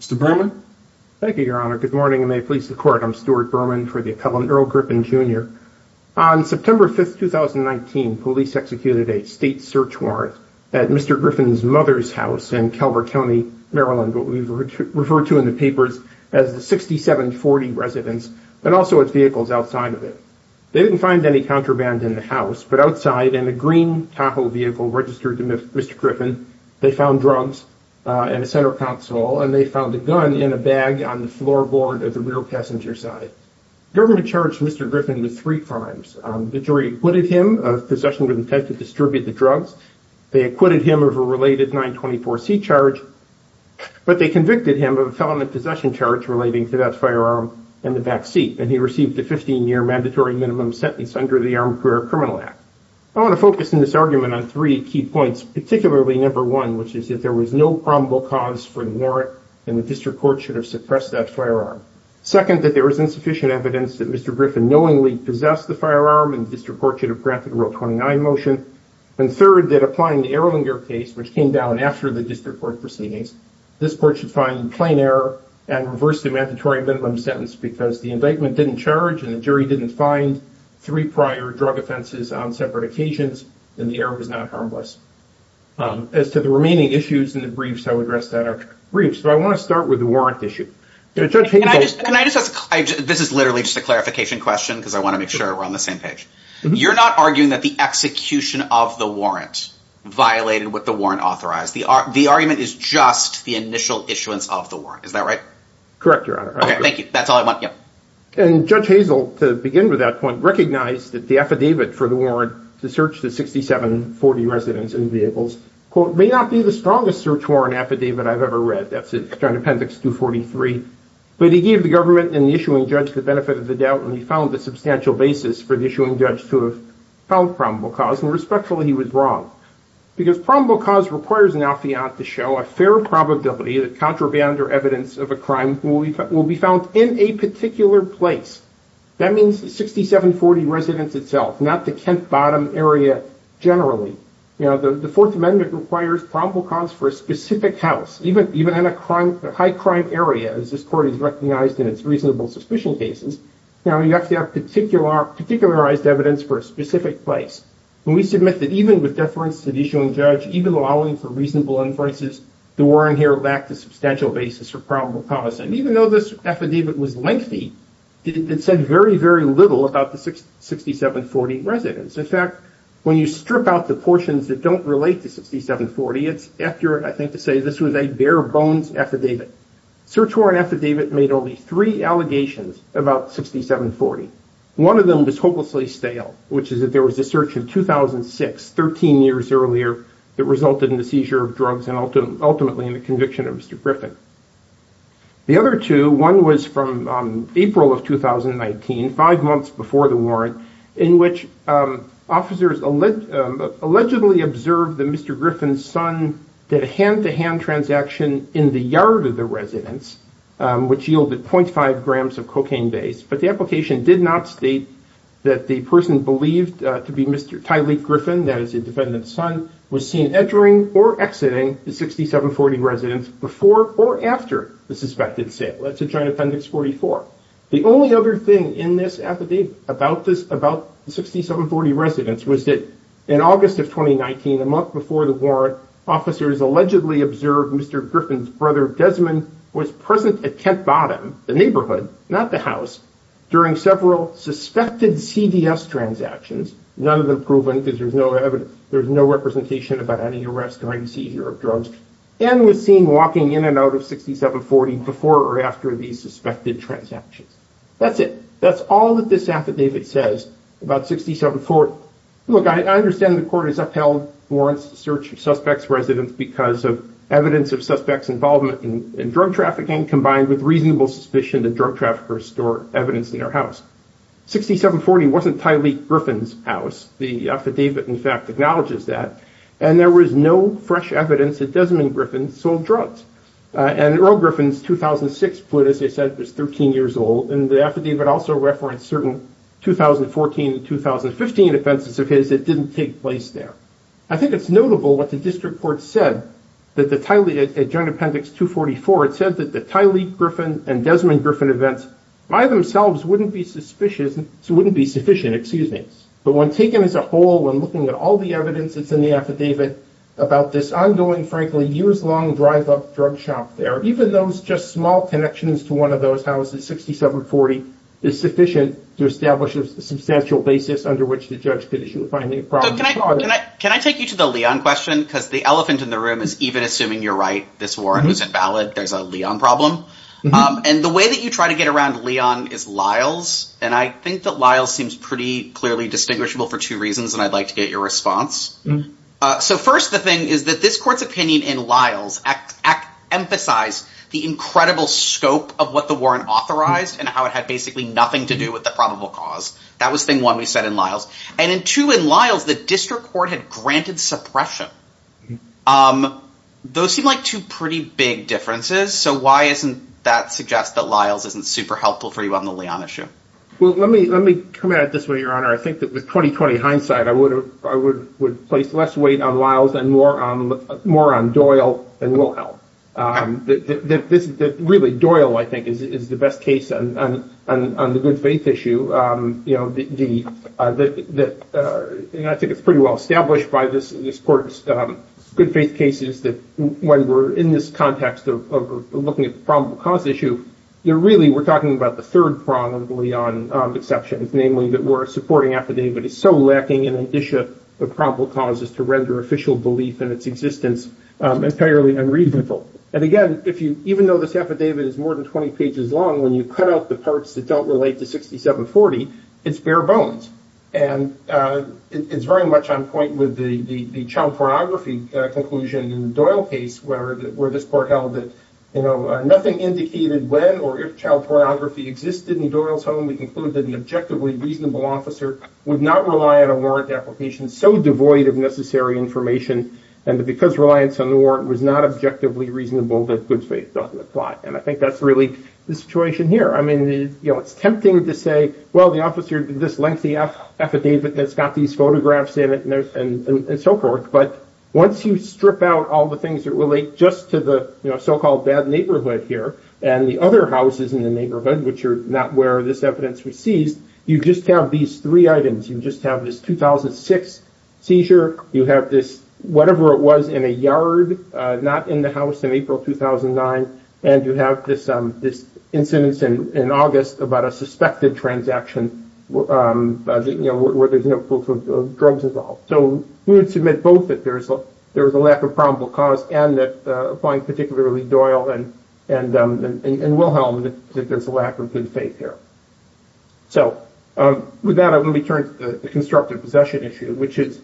Mr. Berman. Thank you, Your Honor. Good morning and may it please the court. I'm Stuart Berman for the appellant Earl Griffin, Jr. On September 5th, 2019, police executed a state search warrant at Mr. Griffin's mother's house in Calvert County, Maryland, what we refer to in the papers as the 6740 residence, but also its vehicles outside of it. They didn't find any contraband in the house, but outside in a green Tahoe vehicle registered to Mr. Griffin, they found drugs in a center console and they found a gun in a bag on the floorboard of the rear passenger side. The government charged Mr. Griffin with three crimes. The jury acquitted him of possession with intent to distribute the drugs. They acquitted him of a related 924C charge, but they convicted him of a felony possession charge relating to that firearm in the back seat, and he received a 15-year mandatory minimum sentence under the Armed Career Criminal Act. I want to focus in this argument on three key points, particularly number one, which is if there was no probable cause for the warrant, then the district court should have suppressed that firearm. Second, that there was insufficient evidence that Mr. Griffin knowingly possessed the firearm and the district court should have granted a Rule 29 motion. And third, that applying the Erlinger case, which came down after the district court proceedings, this court should find plain error and reverse the mandatory minimum sentence because the indictment didn't charge and the jury didn't find three prior drug offenses on separate occasions, then the error was not harmless. As to the remaining issues and the briefs, I would address that in our briefs, but I want to start with the warrant issue. Judge Hazel, can I just ask, this is literally just a clarification question because I want to make sure we're on the same page. You're not arguing that the execution of the warrant violated what the warrant authorized. The argument is just the initial issuance of the warrant. Is that right? Correct, Your Honor. Thank you. That's all I want. Yep. And Judge Hazel, to begin with that point, recognized that the affidavit for the warrant to search the 6740 residents and vehicles, quote, may not be the strongest search warrant affidavit I've ever read. That's in Appendix 243. But he gave the government and the issuing judge the benefit of the doubt and he found a substantial basis for the issuing judge to have found probable cause and respectfully, he was wrong because probable cause requires an affiant to show a fair probability that contraband or evidence of a crime will be found in a particular place. That means the 6740 residents itself, not the Kent Bottom area, generally. You know, the Fourth Amendment requires probable cause for a specific house, even in a high crime area, as this court has recognized in its reasonable suspicion cases. Now, you have to have particularized evidence for a specific place. When we submit that even with deference to the issuing judge, even allowing for reasonable inferences, the warrant here lacked a substantial basis for probable cause. And even though this affidavit was lengthy, it said very, very little about the 6740 residents. In fact, when you strip out the portions that don't relate to 6740, it's accurate, I think, to say this was a bare-bones affidavit. Search warrant affidavit made only three allegations about 6740. One of them was hopelessly stale, which is that there was a search in 2006, 13 years earlier, that resulted in the seizure of drugs and ultimately in the conviction of Mr. Griffin. The other two, one was from April of 2019, five months before the warrant, in which officers allegedly observed that Mr. Griffin's son did a hand-to-hand transaction in the yard of the residence, which yielded 0.5 grams of cocaine base. But the application did not state that the person believed to be Mr. Tyleek Griffin, that is the defendant's son, was seen entering or exiting the 6740 residence before or after the suspected sale. That's a joint appendix 44. The only other thing in this affidavit about the 6740 residence was that in August of 2019, a month before the warrant, officers allegedly observed Mr. Griffin's brother Desmond was present at Kent Bottom, the neighborhood, not the house, during several suspected CDS transactions, none of them proven because there's no evidence, there's no representation about any arrest or any seizure of drugs, and was seen walking in and out of 6740 before or after these suspected transactions. That's it. That's all that this affidavit says about 6740. Look, I understand the court has upheld warrants to search suspects' residence because of evidence of suspects' involvement in drug trafficking, combined with reasonable suspicion that drug traffickers store evidence in their house. 6740 wasn't Tyleek Griffin's house. The affidavit, in fact, acknowledges that, and there was no fresh evidence that Desmond Griffin sold drugs. And Earl Griffin's 2006 foot, as I said, was 13 years old, and the affidavit also referenced certain 2014 and 2015 offenses of his that didn't take place there. I think it's notable what the district court said that the Tyleek, at Joint Appendix 244, it said that the Tyleek Griffin and Desmond Griffin events by themselves wouldn't be sufficient, but when taken as a whole, when looking at all the evidence that's in the affidavit about this ongoing, frankly, years-long drive-up drug shop there, even those just small connections to one of those houses, 6740, is sufficient to establish a substantial basis under which the judge could issue a finding of probable cause. Can I take you to the Leon question? Because the elephant in the room is even assuming you're right, this warrant was invalid, there's a Leon problem. And the way that you try to get around Leon is Lyles, and I think that Lyles seems pretty clearly distinguishable for two reasons, and I'd like to get your response. So first, the thing is that this court's opinion in Lyles emphasized the incredible scope of what the warrant authorized and how it had basically nothing to do with the probable cause. That was thing one we said in Lyles. And in two, in Lyles, the district court had granted suppression. Those seem like two pretty big differences, so why isn't that suggest that Lyles isn't super helpful for you on the Leon issue? Well, let me come at it this way, your honor. I think that with 20-20 hindsight, I would place less weight on Lyles and more on Doyle than Wilhelm. Really, Doyle, I think, is the best case on the good faith issue. I think it's pretty well established by this court's good faith cases that when we're in this context of looking at the probable cause issue, really we're talking about the third problem of the Leon exceptions, namely that we're supporting affidavit is so lacking in an issue of probable causes to render official belief in its existence entirely unreasonable. And again, even though this affidavit is more than 20 pages long, when you cut out the parts that don't relate to 6740, it's bare bones. And it's very much on point with the child pornography conclusion in the Doyle case where this court held that nothing indicated when or if child pornography existed in Doyle's home. We conclude that an objectively reasonable officer would not rely on a warrant application so devoid of necessary information and because reliance on the warrant was not objectively reasonable that good faith doesn't apply. And I think that's really the situation here. I mean, it's tempting to say, well, the officer did this lengthy affidavit that's got these photographs in it and so forth. But once you strip out all the things that relate just to the so-called bad neighborhood here and the other houses in the neighborhood, which are not where this evidence was seized, you just have these three items. You just have this 2006 seizure. You have this whatever it was in a yard not in the house in April 2009. And you have this incident in August about a suspected transaction where there's no proof of drugs involved. So we would submit both that there is a lack of probable cause and that applying particularly Doyle and Wilhelm that there's a lack of good faith here. So with that, let me turn to the constructive possession issue, which is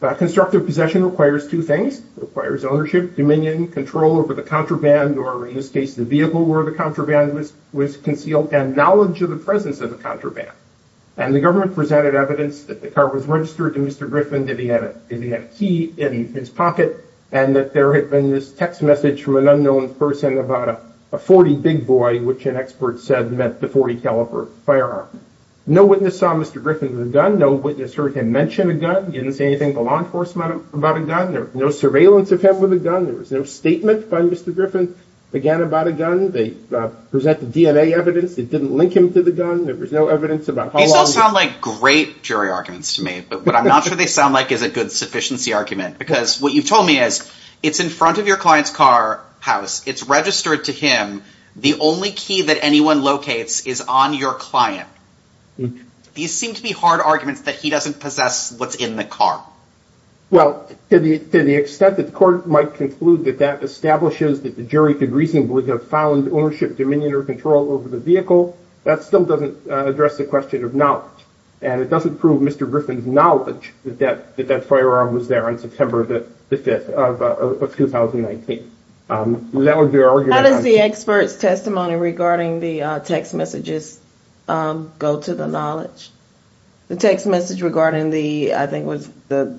constructive possession requires two things. It requires ownership, dominion, control over the contraband or in this case the vehicle where the contraband was concealed and knowledge of the presence of the contraband. And the government presented evidence that the car was registered to Mr. Griffin, that he had a key in his pocket and that there had been this text message from an unknown person about a 40 big boy, which an expert said meant the 40-caliber firearm. No witness saw Mr. Griffin with a gun. No witness heard him mention a gun. Didn't say anything to law enforcement about a gun. There was no surveillance of him with a gun. There was no statement by Mr. Griffin again about a gun. They presented DNA evidence. It didn't link him to the gun. There was no evidence about how long... These all sound like great jury arguments to me, but what I'm not sure they sound like is a good sufficiency argument because what you've told me is it's in front of your client's car house. It's registered to him. The only key that anyone locates is on your client. These seem to be hard arguments that he doesn't possess what's in the car. Well, to the extent that the court might conclude that that establishes that the jury could reasonably have found ownership dominion or control over the vehicle, that still doesn't address the question of knowledge. And it doesn't prove Mr. Griffin's knowledge that that firearm was there on September the 5th of 2019. How does the expert's testimony regarding the text messages go to the knowledge? The text message regarding the, I think was the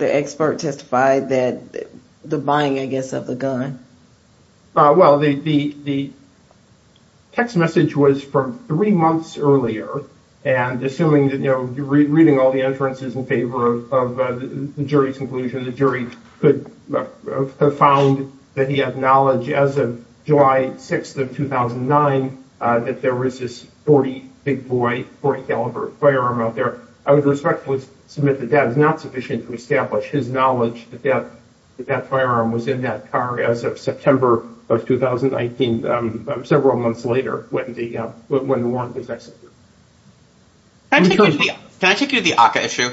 expert testified that the buying, I guess, of the gun. Well, the text message was from three months earlier and assuming that, you know, you're reading all the inferences in favor of the jury's conclusion, the jury could have found that he had knowledge as of July 6th of 2009 that there was this 40 big boy, 40 caliber firearm out there. I would respectfully submit that that is not sufficient to establish his knowledge that that firearm was in that car as of September of 2019, several months later when the warrant was executed. Can I take you to the ACCA issue?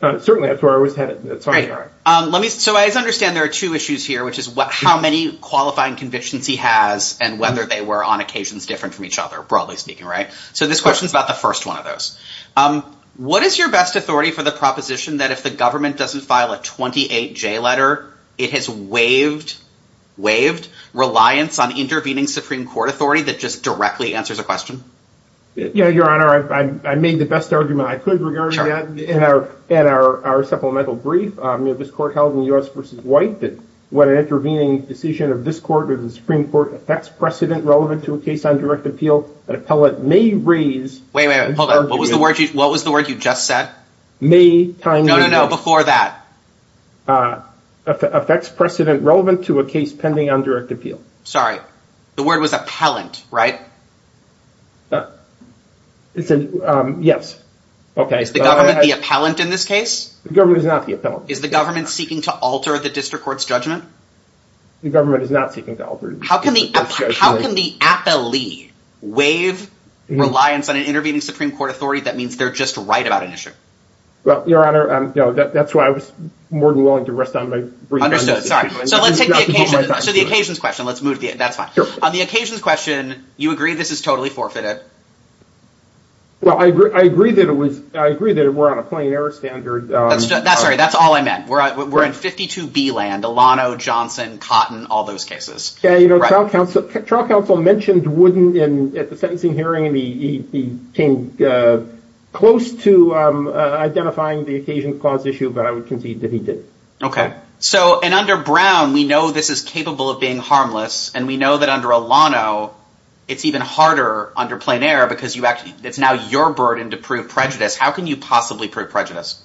Certainly, that's where I was headed. Let me, so I understand there are two issues here, which is what, how many qualifying convictions he has and whether they were on occasions different from each other, broadly speaking, right? So this question is about the first one of those. What is your best authority for the proposition that if the government doesn't file a 28 J letter, it has waived, waived reliance on intervening Supreme Court authority that just directly answers a question? Yeah, Your Honor, I made the best argument I could regarding that in our supplemental brief. This court held in U.S. v. White that when an intervening decision of this court or the Supreme Court affects precedent relevant to a case on direct appeal, an appellate may raise... Wait, wait, hold on. What was the word you just said? May time... No, no, no, before that. ...affects precedent relevant to a case pending on direct appeal. Sorry, the word was appellant, right? Yes. Is the government the appellant in this case? The government is not the appellant. Is the government seeking to alter the district court's The government is not seeking to alter... How can the appellee waive reliance on an intervening Supreme Court authority that means they're just right about an issue? Well, Your Honor, no, that's why I was more than willing to rest on my... Understood, sorry. So let's take the occasion, so the occasions question, let's move, that's fine. On the occasions question, you agree this is totally forfeited. Well, I agree that it was, I agree that we're on a plain error standard. That's right. That's all I meant. We're in 52B land, Alano, Johnson, Cotton, all those cases. Yeah, you know, trial counsel mentioned Wooden at the sentencing hearing and he came close to identifying the occasions clause issue, but I would concede that he did. Okay, so and under Brown, we know this is capable of being under plain error because you actually, it's now your burden to prove prejudice. How can you possibly prove prejudice?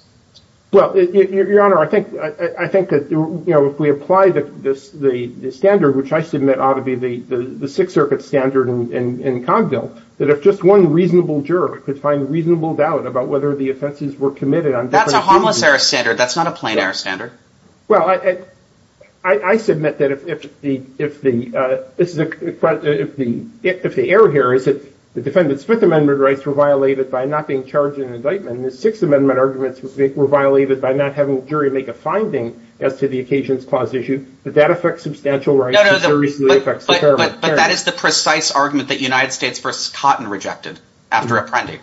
Well, Your Honor, I think that, you know, if we apply the standard, which I submit ought to be the Sixth Circuit standard in Cogdill, that if just one reasonable juror could find reasonable doubt about whether the offenses were committed on... That's a harmless error standard. That's not a plain error standard. Well, I submit that if the error here is that the defendant's Fifth Amendment rights were violated by not being charged in an indictment and the Sixth Amendment arguments were violated by not having a jury make a finding as to the occasions clause issue, that that affects substantial rights. No, no, but that is the precise argument that United States versus Cotton rejected after apprending.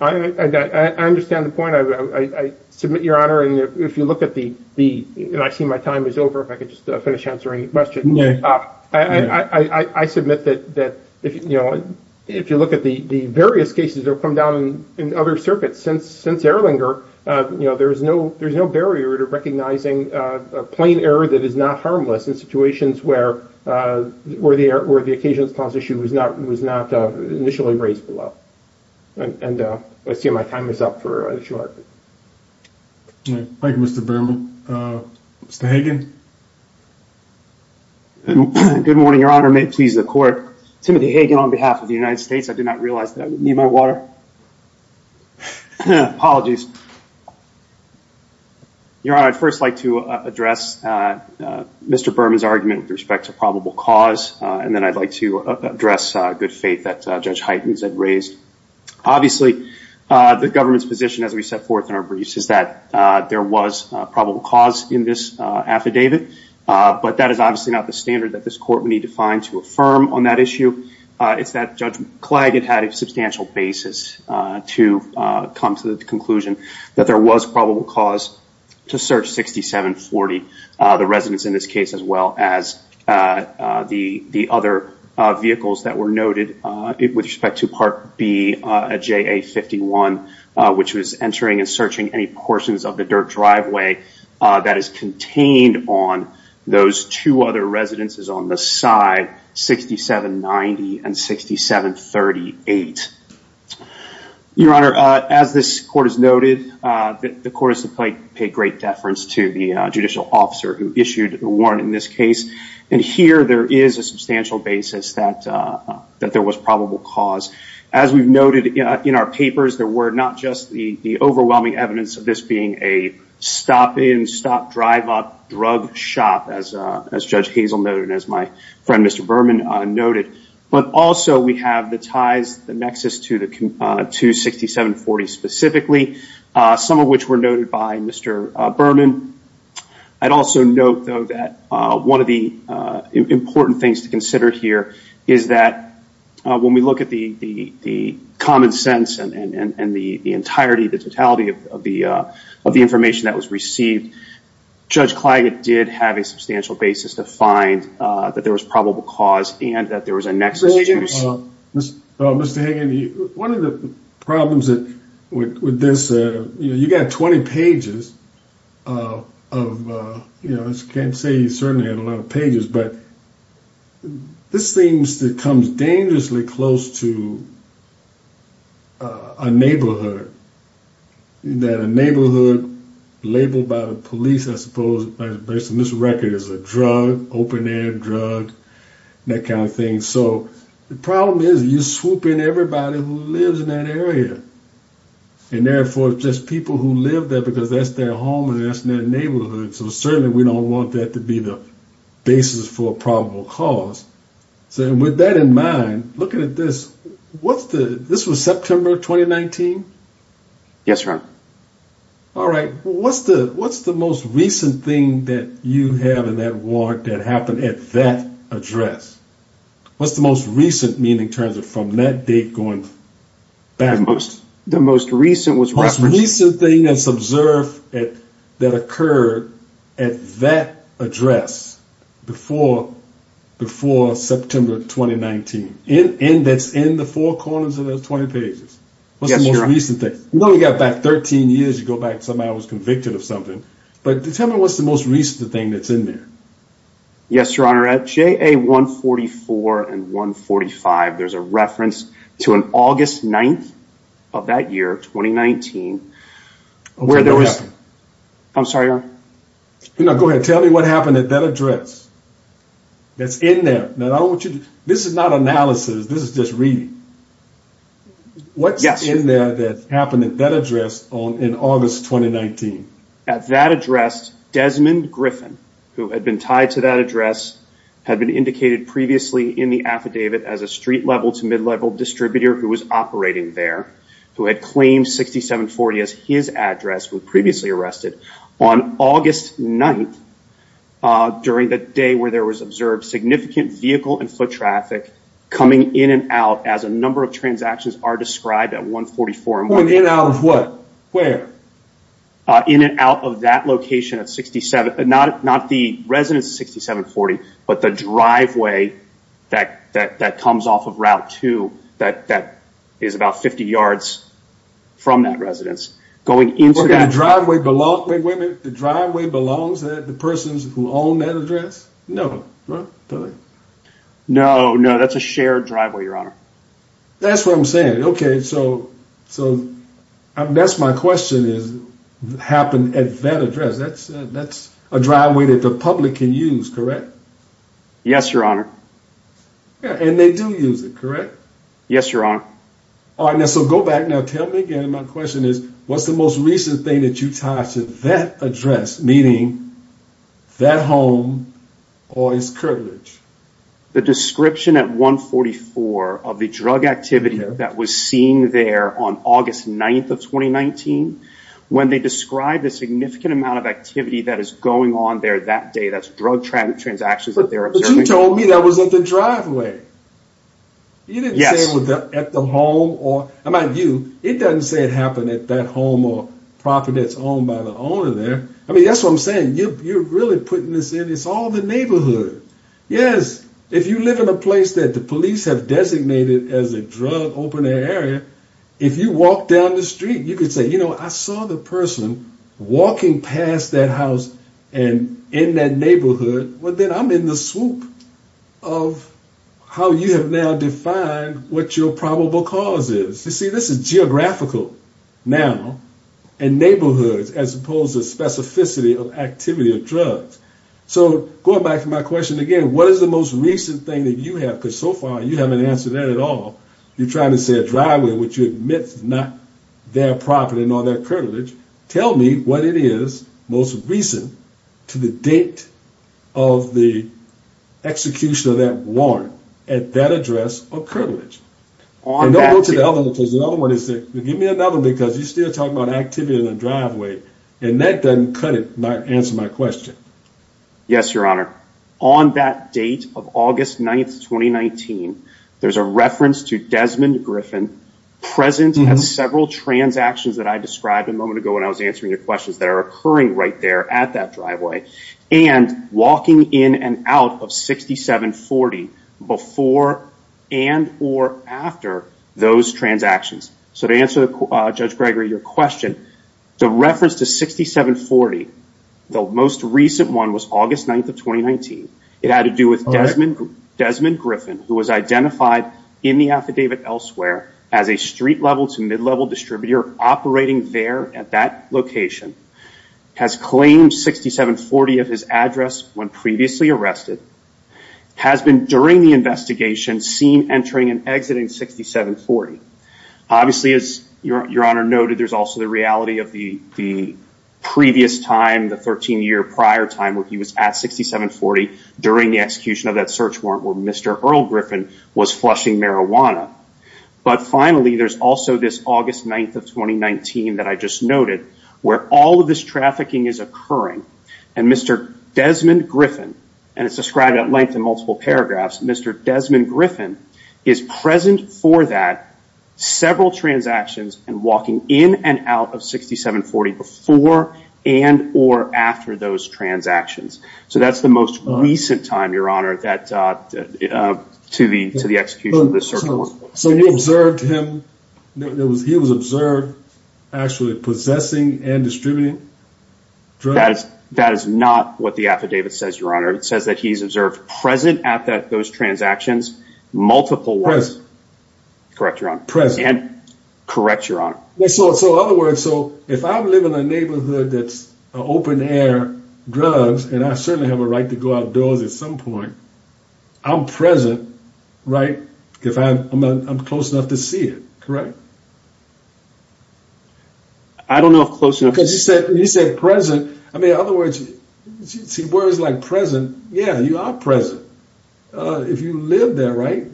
I understand the point. I submit, Your Honor, and if you look at the, and I see my time is over. If I could just finish answering your question, I submit that if you look at the various cases that have come down in other circuits since Erlanger, you know, there's no barrier to recognizing a plain error that is not harmless in situations where the occasions clause issue was not initially raised below. And I see my time is up for a short. Thank you, Mr. Berman. Mr. Hagen? Good morning, Your Honor. May it please the Court. Timothy Hagen on behalf of the United States. I did not realize that I would need my water. Apologies. Your Honor, I'd first like to address Mr. Berman's argument with respect to probable cause, and then I'd like to address good faith that Judge Heitens had raised. Obviously, the government's position, as we set forth in our briefs, is that there was probable cause in this affidavit, but that is obviously not the standard that this court would need to find to affirm on that issue. It's that Judge Klag had had a substantial basis to come to the conclusion that there was probable cause to search 6740, the residents in this case, as well as the other vehicles that were noted with respect to Part B of JA-51, which was entering and searching any portions of the dirt driveway that is contained on those two other residences on the side, 6790 and 6738. Your Honor, as this Court has noted, the Court has to pay great deference to the judicial officer who issued the warrant in this case, and here there is a substantial basis that there was probable cause. As we've noted in our papers, there were not just the overwhelming evidence of this being a stop-in, stop-drive-up drug shop, as Judge Hazel noted, as my friend Mr. Berman noted, but also we have the ties, the nexus to 6740 specifically, some of which were noted by Mr. Berman. I'd also note, though, that one of the important things to consider here is that when we look at the common sense and the entirety, the totality of the information that was received, Judge Klag did have a substantial basis to find that there was probable cause and that there was a nexus. Mr. Hagan, one of the problems with this, you know, you got 20 pages of, you know, I can't say you certainly had a lot of pages, but this seems to come dangerously close to a neighborhood, that a neighborhood labeled by the police, I suppose, based on this record, as a drug, open-air drug, that kind of thing. So the problem is you swoop in everybody who lives in that area and therefore just people who live there because that's their home and that's their neighborhood. So certainly we don't want that to be the basis for a probable cause. So with that in mind, looking at this, what's the, this was September 2019? Yes, sir. All right. What's the most recent thing that you have in that ward that happened at that address? What's the most recent meaning in terms of from that date going backwards? The most recent was referenced. The most recent thing that's observed that occurred at that address before September 2019, and that's in the four corners of those 20 pages. What's the most recent thing? You know, you got back 13 years, you go back, somebody was convicted of something, but tell me what's the most recent thing that's in there. Yes, your honor. At JA 144 and 145, there's a reference to an August 9th of that year, 2019. I'm sorry, your honor. No, go ahead. Tell me what happened at that address. That's in there. Now, I don't want you to, this is not analysis. This is just reading. What's in there that happened at that address on in August 2019? At that address, Desmond Griffin, who had been tied to that address, had been indicated previously in the affidavit as a street-level to mid-level distributor who was operating there, who had claimed 6740 as his address, who was previously arrested. On August 9th, during the day where there was observed significant vehicle and foot traffic coming in and out as a number of transactions are described at 144 and 145. In and out of what? Where? In and out of that location at 67, not the residence 6740, but the driveway that comes off of Route 2, that is about 50 yards from that residence. Going into that driveway belongs, wait a minute, the driveway belongs to the persons who own that address? No. No, no. That's a shared driveway, your honor. That's what I'm saying. Okay. So, that's my question is what happened at that address. That's a driveway that the public can use, correct? Yes, your honor. And they do use it, correct? Yes, your honor. So, go back now. Tell me again, my question is what's the most recent thing that you tied to that address, meaning that home or his curtilage? The description at 144 of the drug activity that was seen there on August 9th of 2019, when they described a significant amount of activity that is going on there that day, that's drug transactions that they're observing. But you told me that was at the driveway. You didn't say it was at the home or, my view, it doesn't say it happened at that home or property that's owned by the owner there. I mean, that's what I'm saying. You're really putting this in. It's all the neighborhood. Yes. If you live in a place that the police have designated as a drug open area, if you walk down the street, you could say, you know, I saw the person walking past that house and in that neighborhood, but then I'm in the swoop of how you have now defined what your probable cause is. You see, this is geographical now and neighborhoods as opposed to specificity of activity of drugs. So, going back to my question again, what is the most recent thing that you have? Because so far, you haven't answered that at all. You're trying to say a driveway, which you admit is not their property and all that curtilage, tell me what it is most recent to the date of the execution of that warrant at that address of curtilage. Give me another one because you're still talking about activity in the driveway and that doesn't cut it, not answer my question. Yes, your honor. On that date of August 9th, 2019, there's a reference to Desmond Griffin who was identified in the affidavit elsewhere as a street level to mid-level distributor operating there at that location, has claimed 6740 of his address when previously arrested, has been during the investigation seen entering and exiting 6740. Obviously, as your honor noted, there's also the reality of the previous time, the 13-year prior time where he was at 6740 during the execution of that search warrant where Mr. Earl Griffin was flushing marijuana. But finally, there's also this August 9th of 2019 that I just noted where all of this trafficking is occurring and Mr. Desmond Griffin and it's described at length in multiple paragraphs, Mr. Desmond Griffin is present for that several transactions and walking in and out of 6740 before and or after those transactions. So that's the most recent time, your honor, to the execution of that search warrant. So you observed him, he was observed actually possessing and distributing drugs? That is not what the affidavit says, your honor. It says that he's observed present at those transactions, multiple ones. Correct, your honor. Present. And correct, your honor. So in other words, so if I live in a neighborhood that's open-air drugs and I certainly have a right to go outdoors at some point, I'm present, right? If I'm close enough to see it, correct? I don't know if close enough. Because you said present. I mean, in other words, you see words like present. Yeah, you are present. If you live there, right?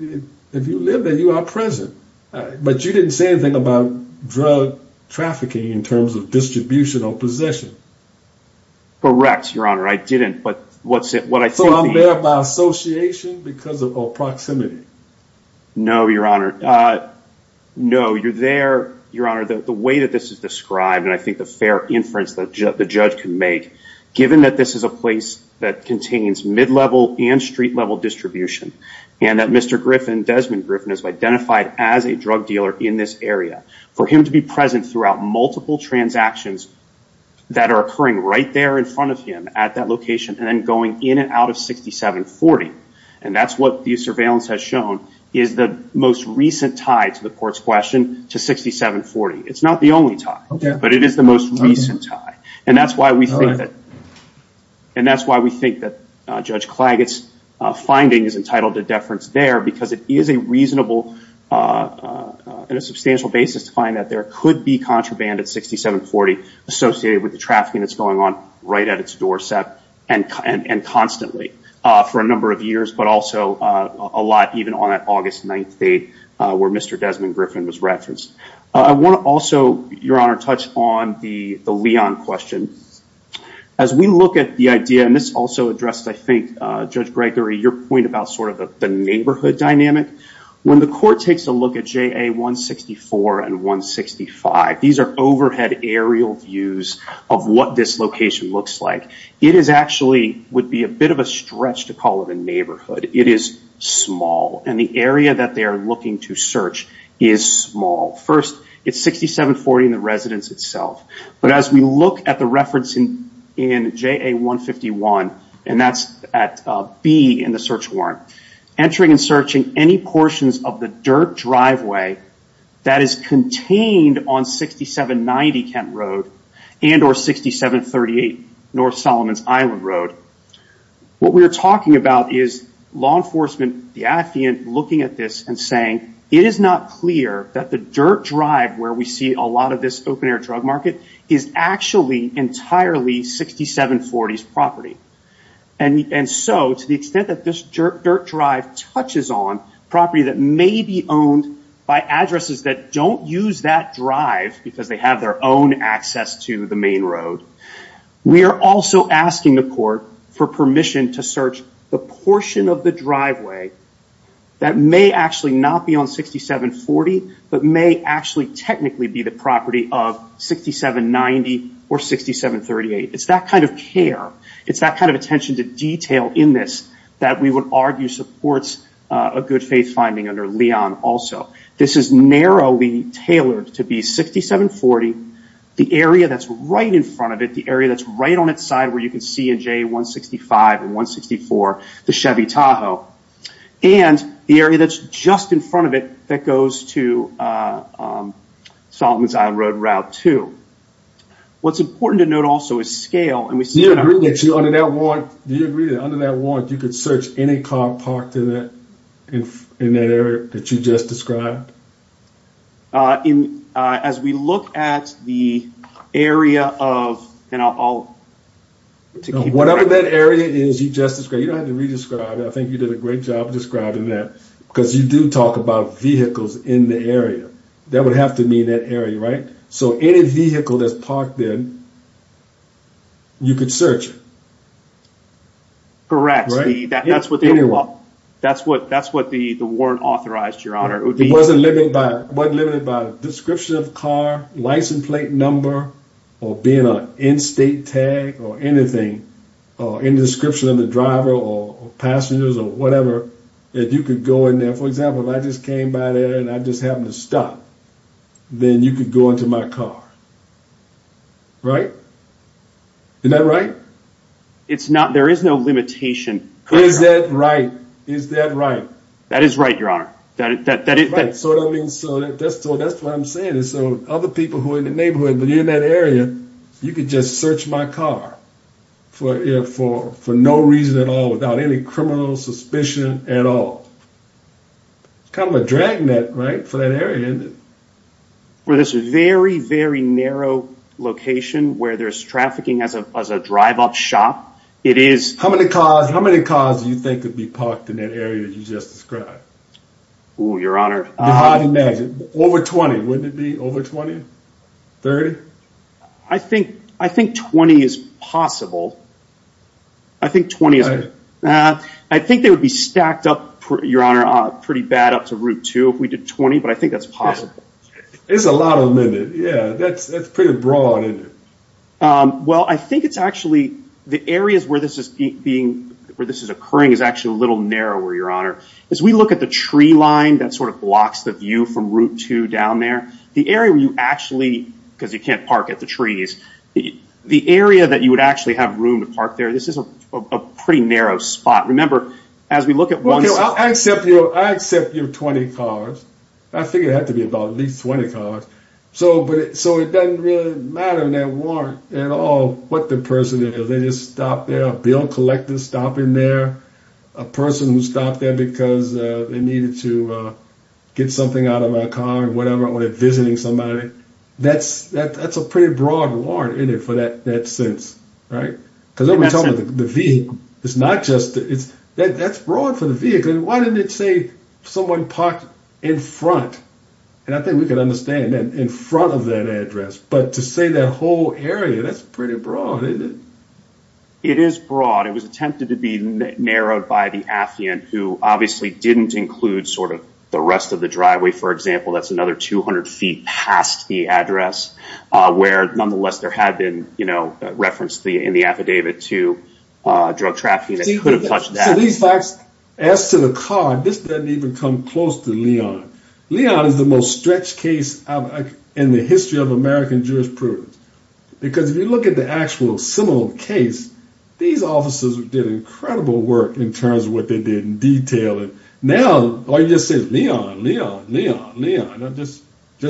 If you live there, you are present. But you didn't say anything about drug trafficking in terms of distribution or possession. Correct, your honor. I didn't. So I'm there by association because of proximity? No, your honor. No, you're there, your honor, the way that this is described, and I think the fair inference that the judge can make, given that this is a place that contains mid-level and street-level distribution, and that Mr. Griffin, Desmond Griffin, is identified as a drug dealer in this area. For him to be present throughout multiple transactions that are occurring right there in front of him at that location and then going in and out of 6740, and that's what the surveillance has shown, is the most recent tie to the court's question to 6740. It's not the only tie, but it is the most recent tie. And that's why we think that Judge Klaget's finding is entitled to deference there because it is a reasonable and a substantial basis to find that there could be contraband at 6740 associated with the case going on right at its doorstep and constantly for a number of years, but also a lot even on that August 9th date where Mr. Desmond Griffin was referenced. I want to also, your honor, touch on the Leon question. As we look at the idea, and this also addressed, I think, Judge Gregory, your point about sort of the neighborhood dynamic. When the court takes a look at JA-164 and 165, these are overhead aerial views of what this location looks like. It is actually, would be a bit of a stretch to call it a neighborhood. It is small, and the area that they are looking to search is small. First, it's 6740 and the residence itself, but as we look at the reference in JA-151, and that's at B in the search warrant, entering and searching any portions of the dirt driveway that is contained on 6790 Kent Road and or 6738 North Solomons Island Road, what we are talking about is law enforcement, the affiant, looking at this and saying, it is not clear that the dirt drive where we see a lot of this open air drug market is actually entirely 6740's property. To the extent that this dirt drive touches on property that may be owned by addresses that don't use that drive because they have their own access to the main road, we are also asking the court for permission to search the portion of the driveway that may actually not be on 6740, but may actually technically be the property of 6790 or 6738. It's that kind of care. It's that kind of attention to detail in this that we would argue supports a good faith finding under Leon also. This is narrowly tailored to be 6740. The area that's right in front of it, the area that's right on its side where you can see in JA-165 and 164, the Chevy Tahoe, and the area that's just in front of it that goes to Solomons Island Road Route 2. What's important to note also is scale. Do you agree that under that warrant, you could search any car parked in that area that you just described? As we look at the area of... Whatever that area is you just described, you don't have to re-describe it. I think you did a great job of describing that because you do talk about vehicles in the area. That would have to mean that area, right? Any vehicle that's parked there, you could search it. Correct. That's what the warrant authorized, Your Honor. It wasn't limited by description of car, license plate number, or being an in-state tag or anything, or any description of the driver or passengers or whatever, that you could go in there. For example, if I just came by there and I just happened to stop, then you could go into my car, right? Isn't that right? It's not. There is no limitation. Is that right? Is that right? That is right, Your Honor. That's what I'm saying is so other people who are in the neighborhood, but you're in that area, you could just search my car for no reason at all, without any criminal suspicion at all. It's kind of a drag net, right, for that area. For this very, very narrow location where there's trafficking as a drive-up shop, it is- How many cars do you think could be parked in that area you just described? Ooh, Your Honor. Over 20, wouldn't it be over 20? 30? I think 20 is possible. I think 20 is- I think they would be stacked up, Your Honor, pretty bad up to Route 2 if we did 20, but I think that's possible. It's a lot of limit, yeah. That's pretty broad, isn't it? Well, I think it's actually- The areas where this is occurring is actually a little narrower, Your Honor. As we look at the tree line that sort of blocks the view from Route 2 down there, the area where you actually- Because you can't park at the trees. The area that you would actually have room to park there, this is a pretty narrow spot. Remember, as we look at one- I accept you have 20 cars. I think it had to be about at least 20 cars. So, it doesn't really matter in that warrant at all what the person is. They just stop there, a bill collector stop in there, a person who stopped there because they needed to get something out of their car, whatever, when they're visiting somebody. That's a pretty broad warrant in it for that sense, right? Because I'm talking about the vehicle. It's not just- That's broad for the vehicle. Why didn't it say someone parked in front? And I think we can understand that in front of that address. But to say that whole area, that's pretty broad, isn't it? It is broad. It was attempted to be narrowed by the affiant, who obviously didn't include sort of the rest of the driveway, for example. That's another 200 feet past the address, where nonetheless there had been, you know, reference in the affidavit to drug trafficking that could have touched that. So, these facts, as to the car, this doesn't even come close to Leon. Leon is the most stretched case in the history of American jurisprudence. Because if you look at the actual similar case, these officers did incredible work in terms of what they did in detail. And now, all you just say is, Leon, Leon, Leon, Leon. Just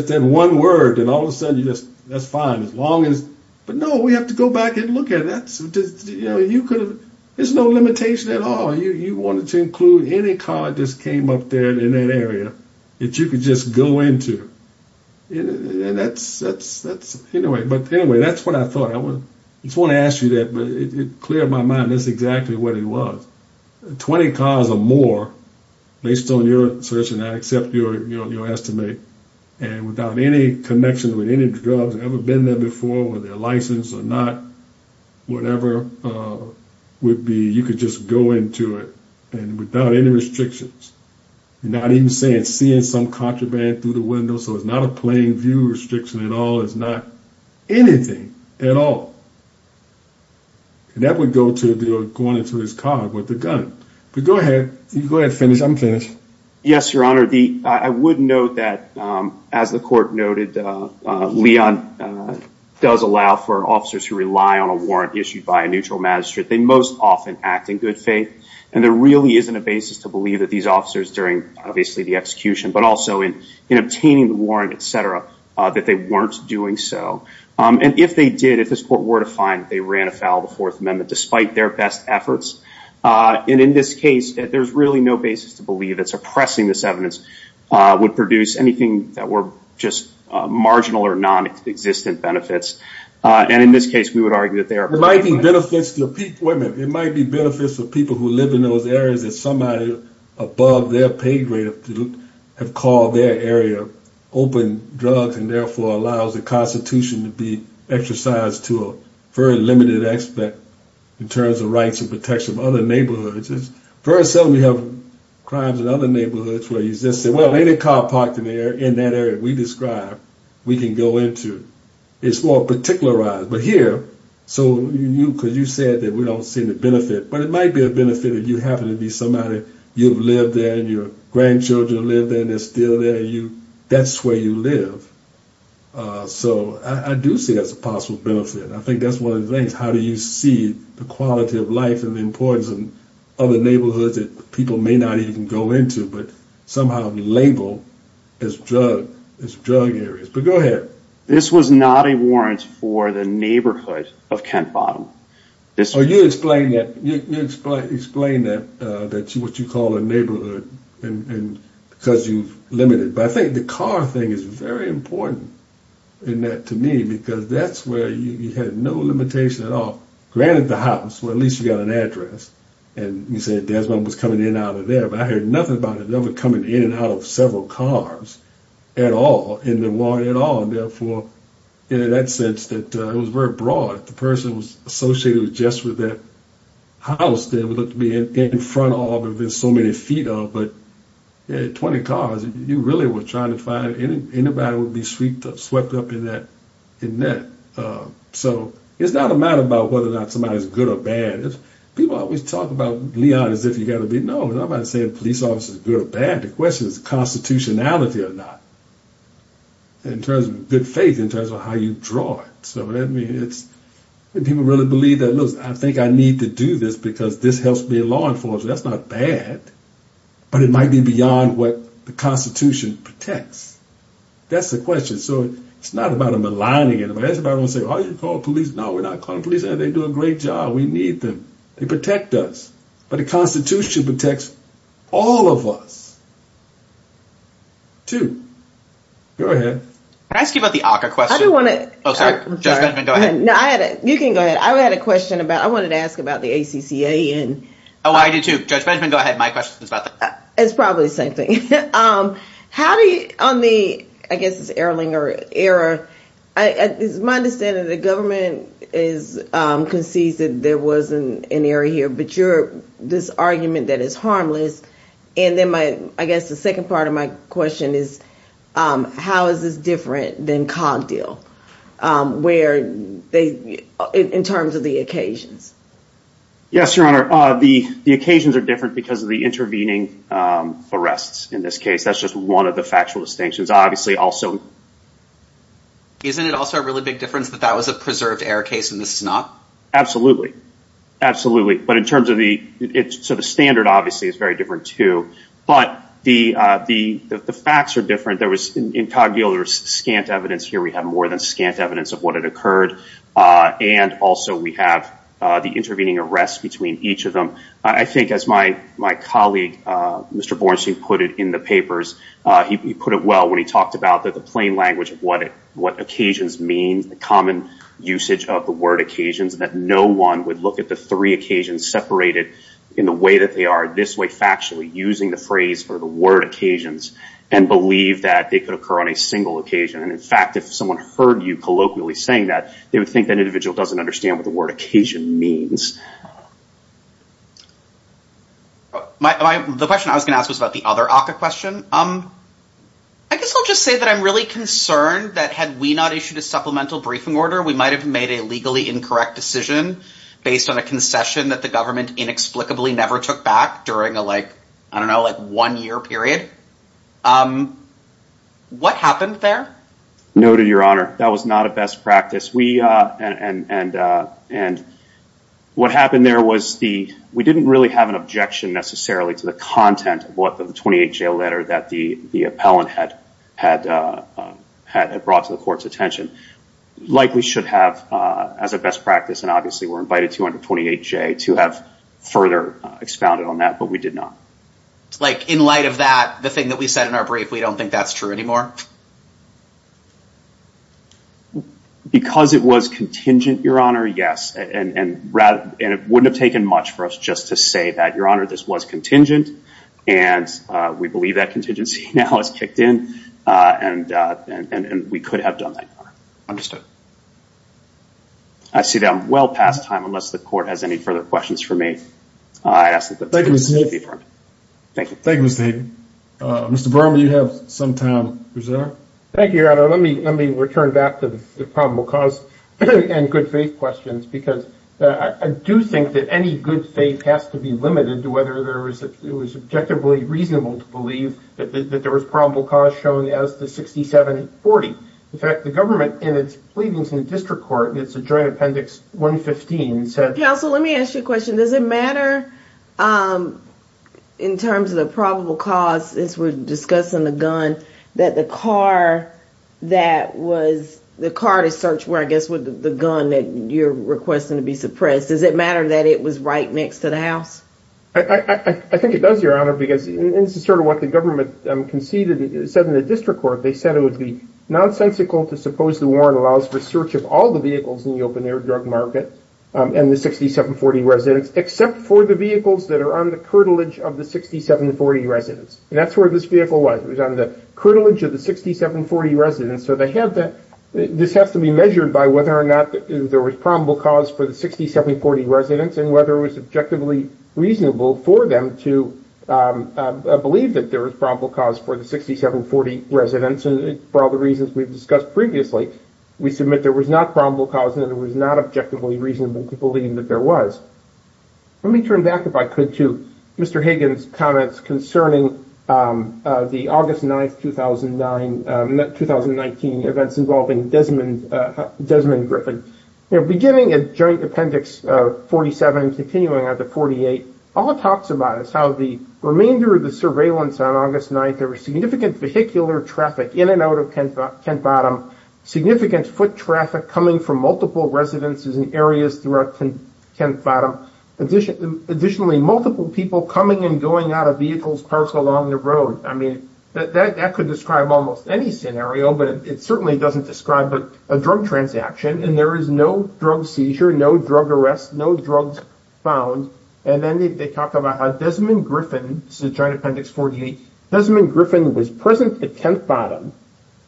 that one word, and all of a sudden, you just, that's fine. As long as, but no, we have to go back and look at it. That's just, you know, you could have, there's no limitation at all. You wanted to include any car that just came up there in that area, that you could just go into. And that's, anyway, but anyway, that's what I thought. I just want to ask you that, but it cleared my mind. That's exactly what it was. 20 cars or more, based on your search, and I accept your estimate. And without any connection with any drugs ever been there before, with their license or not, whatever would be, you could just go into it and without any restrictions. Not even saying seeing some contraband through the window, so it's not a plain view restriction at all. It's not anything at all. And that would go to the, going into his car with the gun. But go ahead, you go ahead and finish, I'm finished. Yes, your honor, the, I would note that, as the court noted, Leon does allow for officers to rely on a warrant issued by a neutral magistrate. They most often act in good faith. And there really isn't a basis to believe that these officers during, obviously, the execution, but also in obtaining the warrant, et cetera, that they weren't doing so. And if they did, if this court were to find that they ran afoul of the Fourth Amendment, despite their best efforts, and in this case, there's really no basis to believe that suppressing this evidence would produce anything that were just marginal or non-existent benefits. And in this case, we would argue that they are- There might be benefits to people, wait a minute, there might be benefits for people who live in those areas that somebody above their pay grade have called their area open drugs and therefore allows the Constitution to be exercised to a very limited aspect in terms of rights and protection of other neighborhoods. Very seldom we have crimes in other neighborhoods where you just say, well, ain't a car parked in that area we described we can go into? It's more particularized. But here, so you, because you said that we don't see any benefit, but it might be a benefit if you happen to be somebody, you've lived there and your grandchildren live there and they're still there, that's where you live. So I do see that's a possible benefit. I think that's one of the things. How do you see the quality of life and the importance of other neighborhoods that people may not even go into but somehow label as drug areas? But go ahead. This was not a warrant for the neighborhood of Kent Bottom. So you explain that, you explain that what you call a neighborhood and because you've limited. But I think the car thing is very important in that to me because that's where you had no limitation at all. Granted, the house, well, at least you got an address. And you said Desmond was coming in and out of there. But I heard nothing about it ever coming in and out of several cars at all in the warrant at all. And therefore, in that sense that it was very broad. The person was associated just with that house that would look to be in front of a car that there's so many feet of. But 20 cars, you really were trying to find anybody would be swept up in that. So it's not a matter about whether or not somebody's good or bad. People always talk about Leon as if you got to be. No, I'm not saying police officers are good or bad. The question is constitutionality or not in terms of good faith, in terms of how you draw it. So I mean, it's people really believe that. Look, I think I need to do this because this helps be a law enforcer. That's not bad. But it might be beyond what the Constitution protects. That's the question. So it's not about them aligning it. It's about them saying, are you calling police? No, we're not calling police. They do a great job. We need them. They protect us. But the Constitution protects all of us too. Go ahead. Can I ask you about the ACCA question? I don't want to. Oh, sorry. Judge Benjamin, go ahead. No, you can go ahead. I had a question about, I wanted to ask about the ACCA. Oh, I do too. Judge Benjamin, go ahead. My question is about that. It's probably the same thing. How do you, on the, I guess it's Erlinger error, it's my understanding the government is conceded there was an error here. But you're, this argument that it's harmless. And then my, I guess the second part of my question is, how is this different than Cogdill, where they, in terms of the occasions? Yes, Your Honor. The occasions are different because of the intervening arrests in this case. That's just one of the factual distinctions. Obviously, also. Isn't it also a really big difference that that was a preserved error case and this is not? But in terms of the, so the standard, obviously, is very different too. But the facts are different. There was, in Cogdill, there was scant evidence. Here we have more than scant evidence of what had occurred. And also, we have the intervening arrests between each of them. I think, as my colleague, Mr. Bornstein, put it in the papers. He put it well when he talked about the plain language of what occasions mean, the common usage of the word occasions, that no one would look at the three occasions separated in the way that they are this way factually, using the phrase for the word occasions, and believe that it could occur on a single occasion. And in fact, if someone heard you colloquially saying that, they would think that individual doesn't understand what the word occasion means. The question I was going to ask was about the other ACCA question. I guess I'll just say that I'm really concerned that, had we not issued a supplemental briefing order, we might have made a legally incorrect decision based on a concession that the government inexplicably never took back during a, I don't know, like one year period. What happened there? No, to your honor, that was not a best practice. And what happened there was we didn't really have an objection, necessarily, to the content of the 28J letter that the appellant had brought to the court's attention. Likely should have, as a best practice, and obviously we're invited to under 28J to have further expounded on that, but we did not. It's like, in light of that, the thing that we said in our brief, we don't think that's true anymore? Because it was contingent, your honor, yes. And it wouldn't have taken much for us just to say that, your honor, this was contingent. And we believe that contingency now has kicked in. And we could have done that, your honor. I see that I'm well past time, unless the court has any further questions for me. I ask that the testimony be affirmed. Thank you. Thank you, Mr. Hayden. Mr. Burma, you have some time. Thank you, your honor. Let me return back to the probable cause and good faith questions. Because I do think that any good faith has to be limited to whether it was objectively reasonable to believe that there was probable cause shown as the 6740. In fact, the government, in its pleadings in the district court, and it's a joint appendix 115, said- Counsel, let me ask you a question. Does it matter, in terms of the probable cause, as we're discussing the gun, that the car that was- the car to search, I guess, with the gun that you're requesting to be suppressed, does it matter that it was right next to the house? I think it does, your honor. Because this is sort of what the government conceded, said in the district court. They said it would be nonsensical to suppose the warrant allows for search of all the vehicles in the open-air drug market and the 6740 residents, except for the vehicles that are on the curtilage of the 6740 residents. And that's where this vehicle was. It was on the curtilage of the 6740 residents. So this has to be measured by whether or not there was probable cause for the 6740 residents and whether it was objectively reasonable for them to believe that there was probable cause for the 6740 residents. And for all the reasons we've discussed previously, we submit there was not probable cause and it was not objectively reasonable to believe that there was. Let me turn back, if I could, to Mr. Hagan's comments concerning the August 9, 2019 events involving Desmond Griffin. Beginning at Joint Appendix 47, continuing on to 48, all it talks about is how the remainder of the surveillance on August 9, there was significant vehicular traffic in and out of Kent Bottom, significant foot traffic coming from multiple residences and areas throughout Kent Bottom, additionally, multiple people coming and going out of vehicles parked along the road. I mean, that could describe almost any scenario, but it certainly doesn't describe a drug transaction. And there is no drug seizure, no drug arrest, no drugs found. And then they talk about how Desmond Griffin, this is Joint Appendix 48, Desmond Griffin was present at Kent Bottom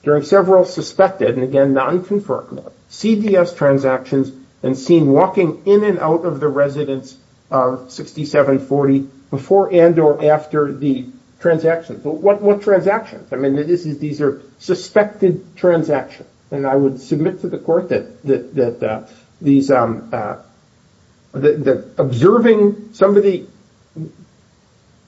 during several suspected, and again, non-confirmed, CDS transactions and seen walking in and out of the residence of 6740 before and or after the transaction. But what transactions? I mean, these are suspected transactions. And I would submit to the court that observing somebody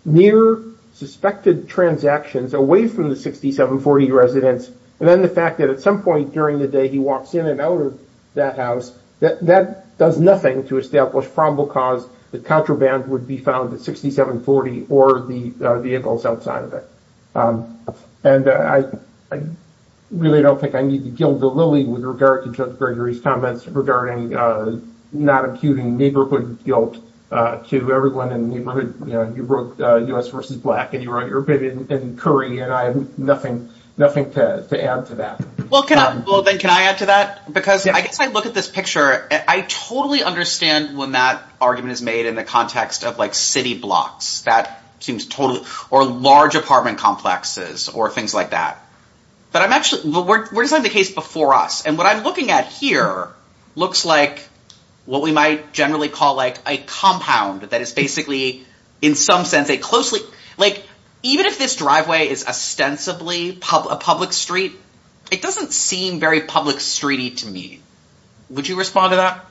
near suspected transactions away from the 6740 residence, and then the fact that at some point during the day, he walks in and out of that house, that does nothing to establish probable cause that contraband would be found at 6740 or the vehicles outside of it. And I really don't think I need to gild the lily with regard to Judge Gregory's comments regarding not imputing neighborhood guilt to everyone in the neighborhood. You wrote US versus Black, and you wrote your opinion in Curry, and I have nothing to add to that. Well, then, can I add to that? Because I guess I look at this picture, and I totally understand when that argument is made in the context of city blocks, or large apartment complexes, or things like that. But we're designing the case before us. And what I'm looking at here looks like what we might generally call a compound that is basically, in some sense, a closely— even if this driveway is ostensibly a public street, it doesn't seem very public street-y to me. Would you respond to that?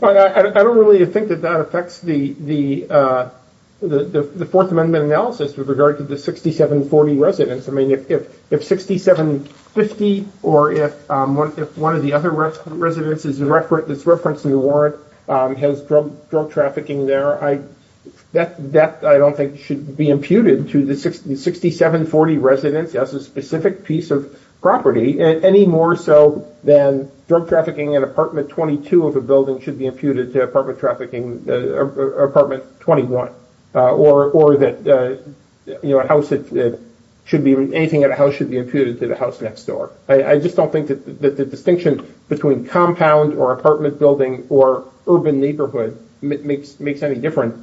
Well, I don't really think that that affects the Fourth Amendment analysis with regard to the 6740 residents. I mean, if 6750, or if one of the other residents is referenced in the warrant, has drug trafficking there, that, I don't think, should be imputed to the 6740 residents as a specific piece of property, any more so than drug trafficking in apartment 22 of a building should be imputed to apartment 21, or that anything in a house should be imputed to the house next door. I just don't think that the distinction between compound, or apartment building, or urban neighborhood makes any difference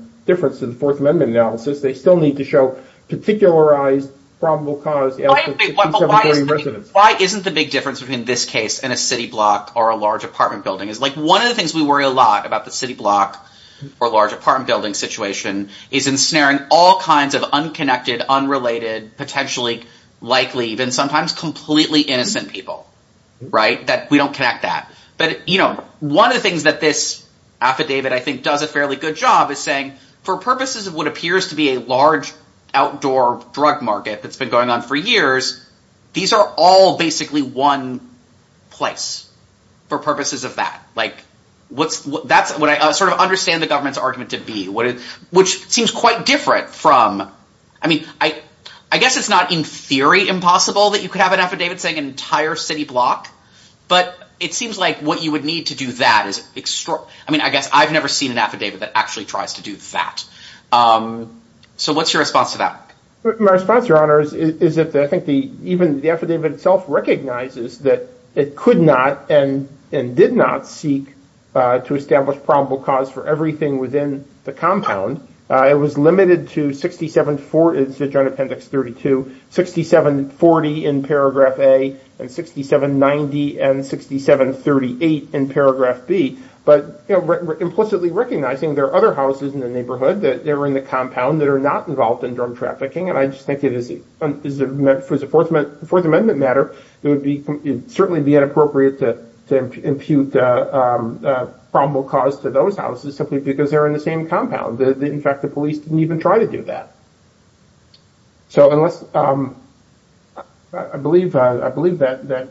to the Fourth Amendment analysis. They still need to show particularized, probable cause to the 6740 residents. Why isn't the big difference between this case and a city block or a large apartment building? It's like, one of the things we worry a lot about the city block or large apartment building situation is ensnaring all kinds of unconnected, unrelated, potentially likely, even sometimes completely innocent people, right? That we don't connect that. But, you know, one of the things that this affidavit, I think, does a fairly good job is saying, for purposes of what appears to be a large outdoor drug market that's been going on for years, these are all basically one place for purposes of that. Like, that's what I sort of understand the government's argument to be, which seems quite different from, I mean, I guess it's not in theory impossible that you could have an affidavit saying an entire city block, but it seems like what you would need to do that is extraordinary. I mean, I guess I've never seen an affidavit that actually tries to do that. So what's your response to that? My response, Your Honor, is that I think even the affidavit itself recognizes that it could not and did not seek to establish probable cause for everything within the compound. It was limited to 6740, it's the Joint Appendix 32, 6740 in paragraph A and 6790 and 6738 in paragraph B. But, you know, we're implicitly recognizing there are other houses in the neighborhood that are in the compound that are not involved in drug trafficking. And I just think it is, for the Fourth Amendment matter, it would certainly be inappropriate to impute probable cause to those houses simply because they're in the same compound. In fact, the police didn't even try to do that. So unless, I believe that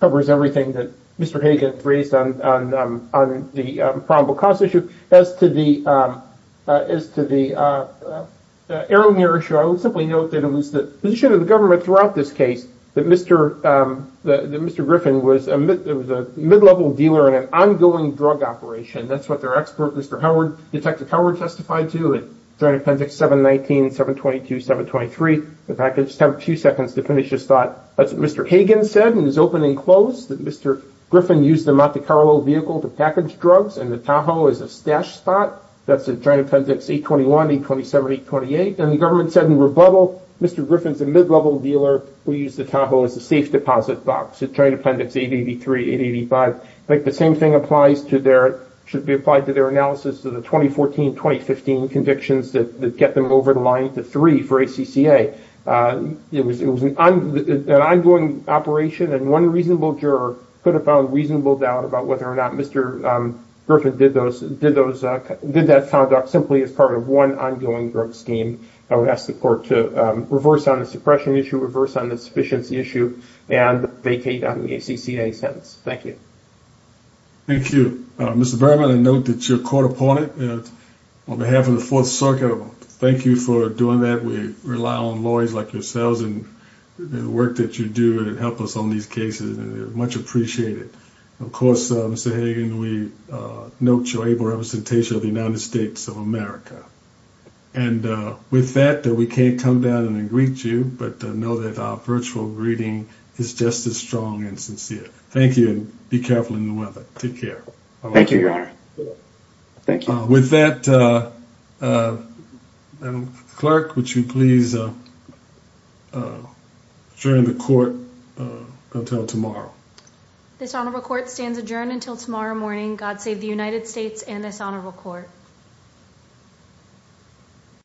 covers everything that Mr. Hagan raised on the probable cause issue. As to the Erlinger issue, I would simply note that it was the position of the government throughout this case that Mr. Griffin was a mid-level dealer in an ongoing drug operation. That's what their expert, Mr. Howard, Detective Howard testified to in Joint Appendix 719, 722, 723. If I could just have a few seconds to finish this thought. That's what Mr. Hagan said, and it's open and closed, that Mr. Griffin used the Monte Carlo vehicle to package drugs, and the Tahoe as a stash spot. That's at Joint Appendix 821, 827, 828. And the government said in rebuttal, Mr. Griffin's a mid-level dealer. We use the Tahoe as a safe deposit box at Joint Appendix 883, 885. I think the same thing applies to their, should be applied to their analysis of the 2014, 2015 convictions that get them over the line to three for ACCA. It was an ongoing operation, and one reasonable juror could have found reasonable doubt about whether or not Mr. Griffin did that conduct simply as part of one ongoing drug scheme. I would ask the court to reverse on the suppression issue, reverse on the sufficiency issue, and vacate on the ACCA sentence. Thank you. Thank you. Mr. Berman, I note that you're a court opponent. On behalf of the Fourth Circuit, thank you for doing that. We rely on lawyers like yourselves, and the work that you do to help us on these cases, and we much appreciate it. Of course, Mr. Hagan, we note your able representation of the United States of America. And with that, we can't come down and greet you, but know that our virtual greeting is just as strong and sincere. Thank you, and be careful in the weather. Take care. Thank you, Your Honor. Thank you. With that, clerk, would you please adjourn the court until tomorrow? This honorable court stands adjourned until tomorrow morning. God save the United States and this honorable court.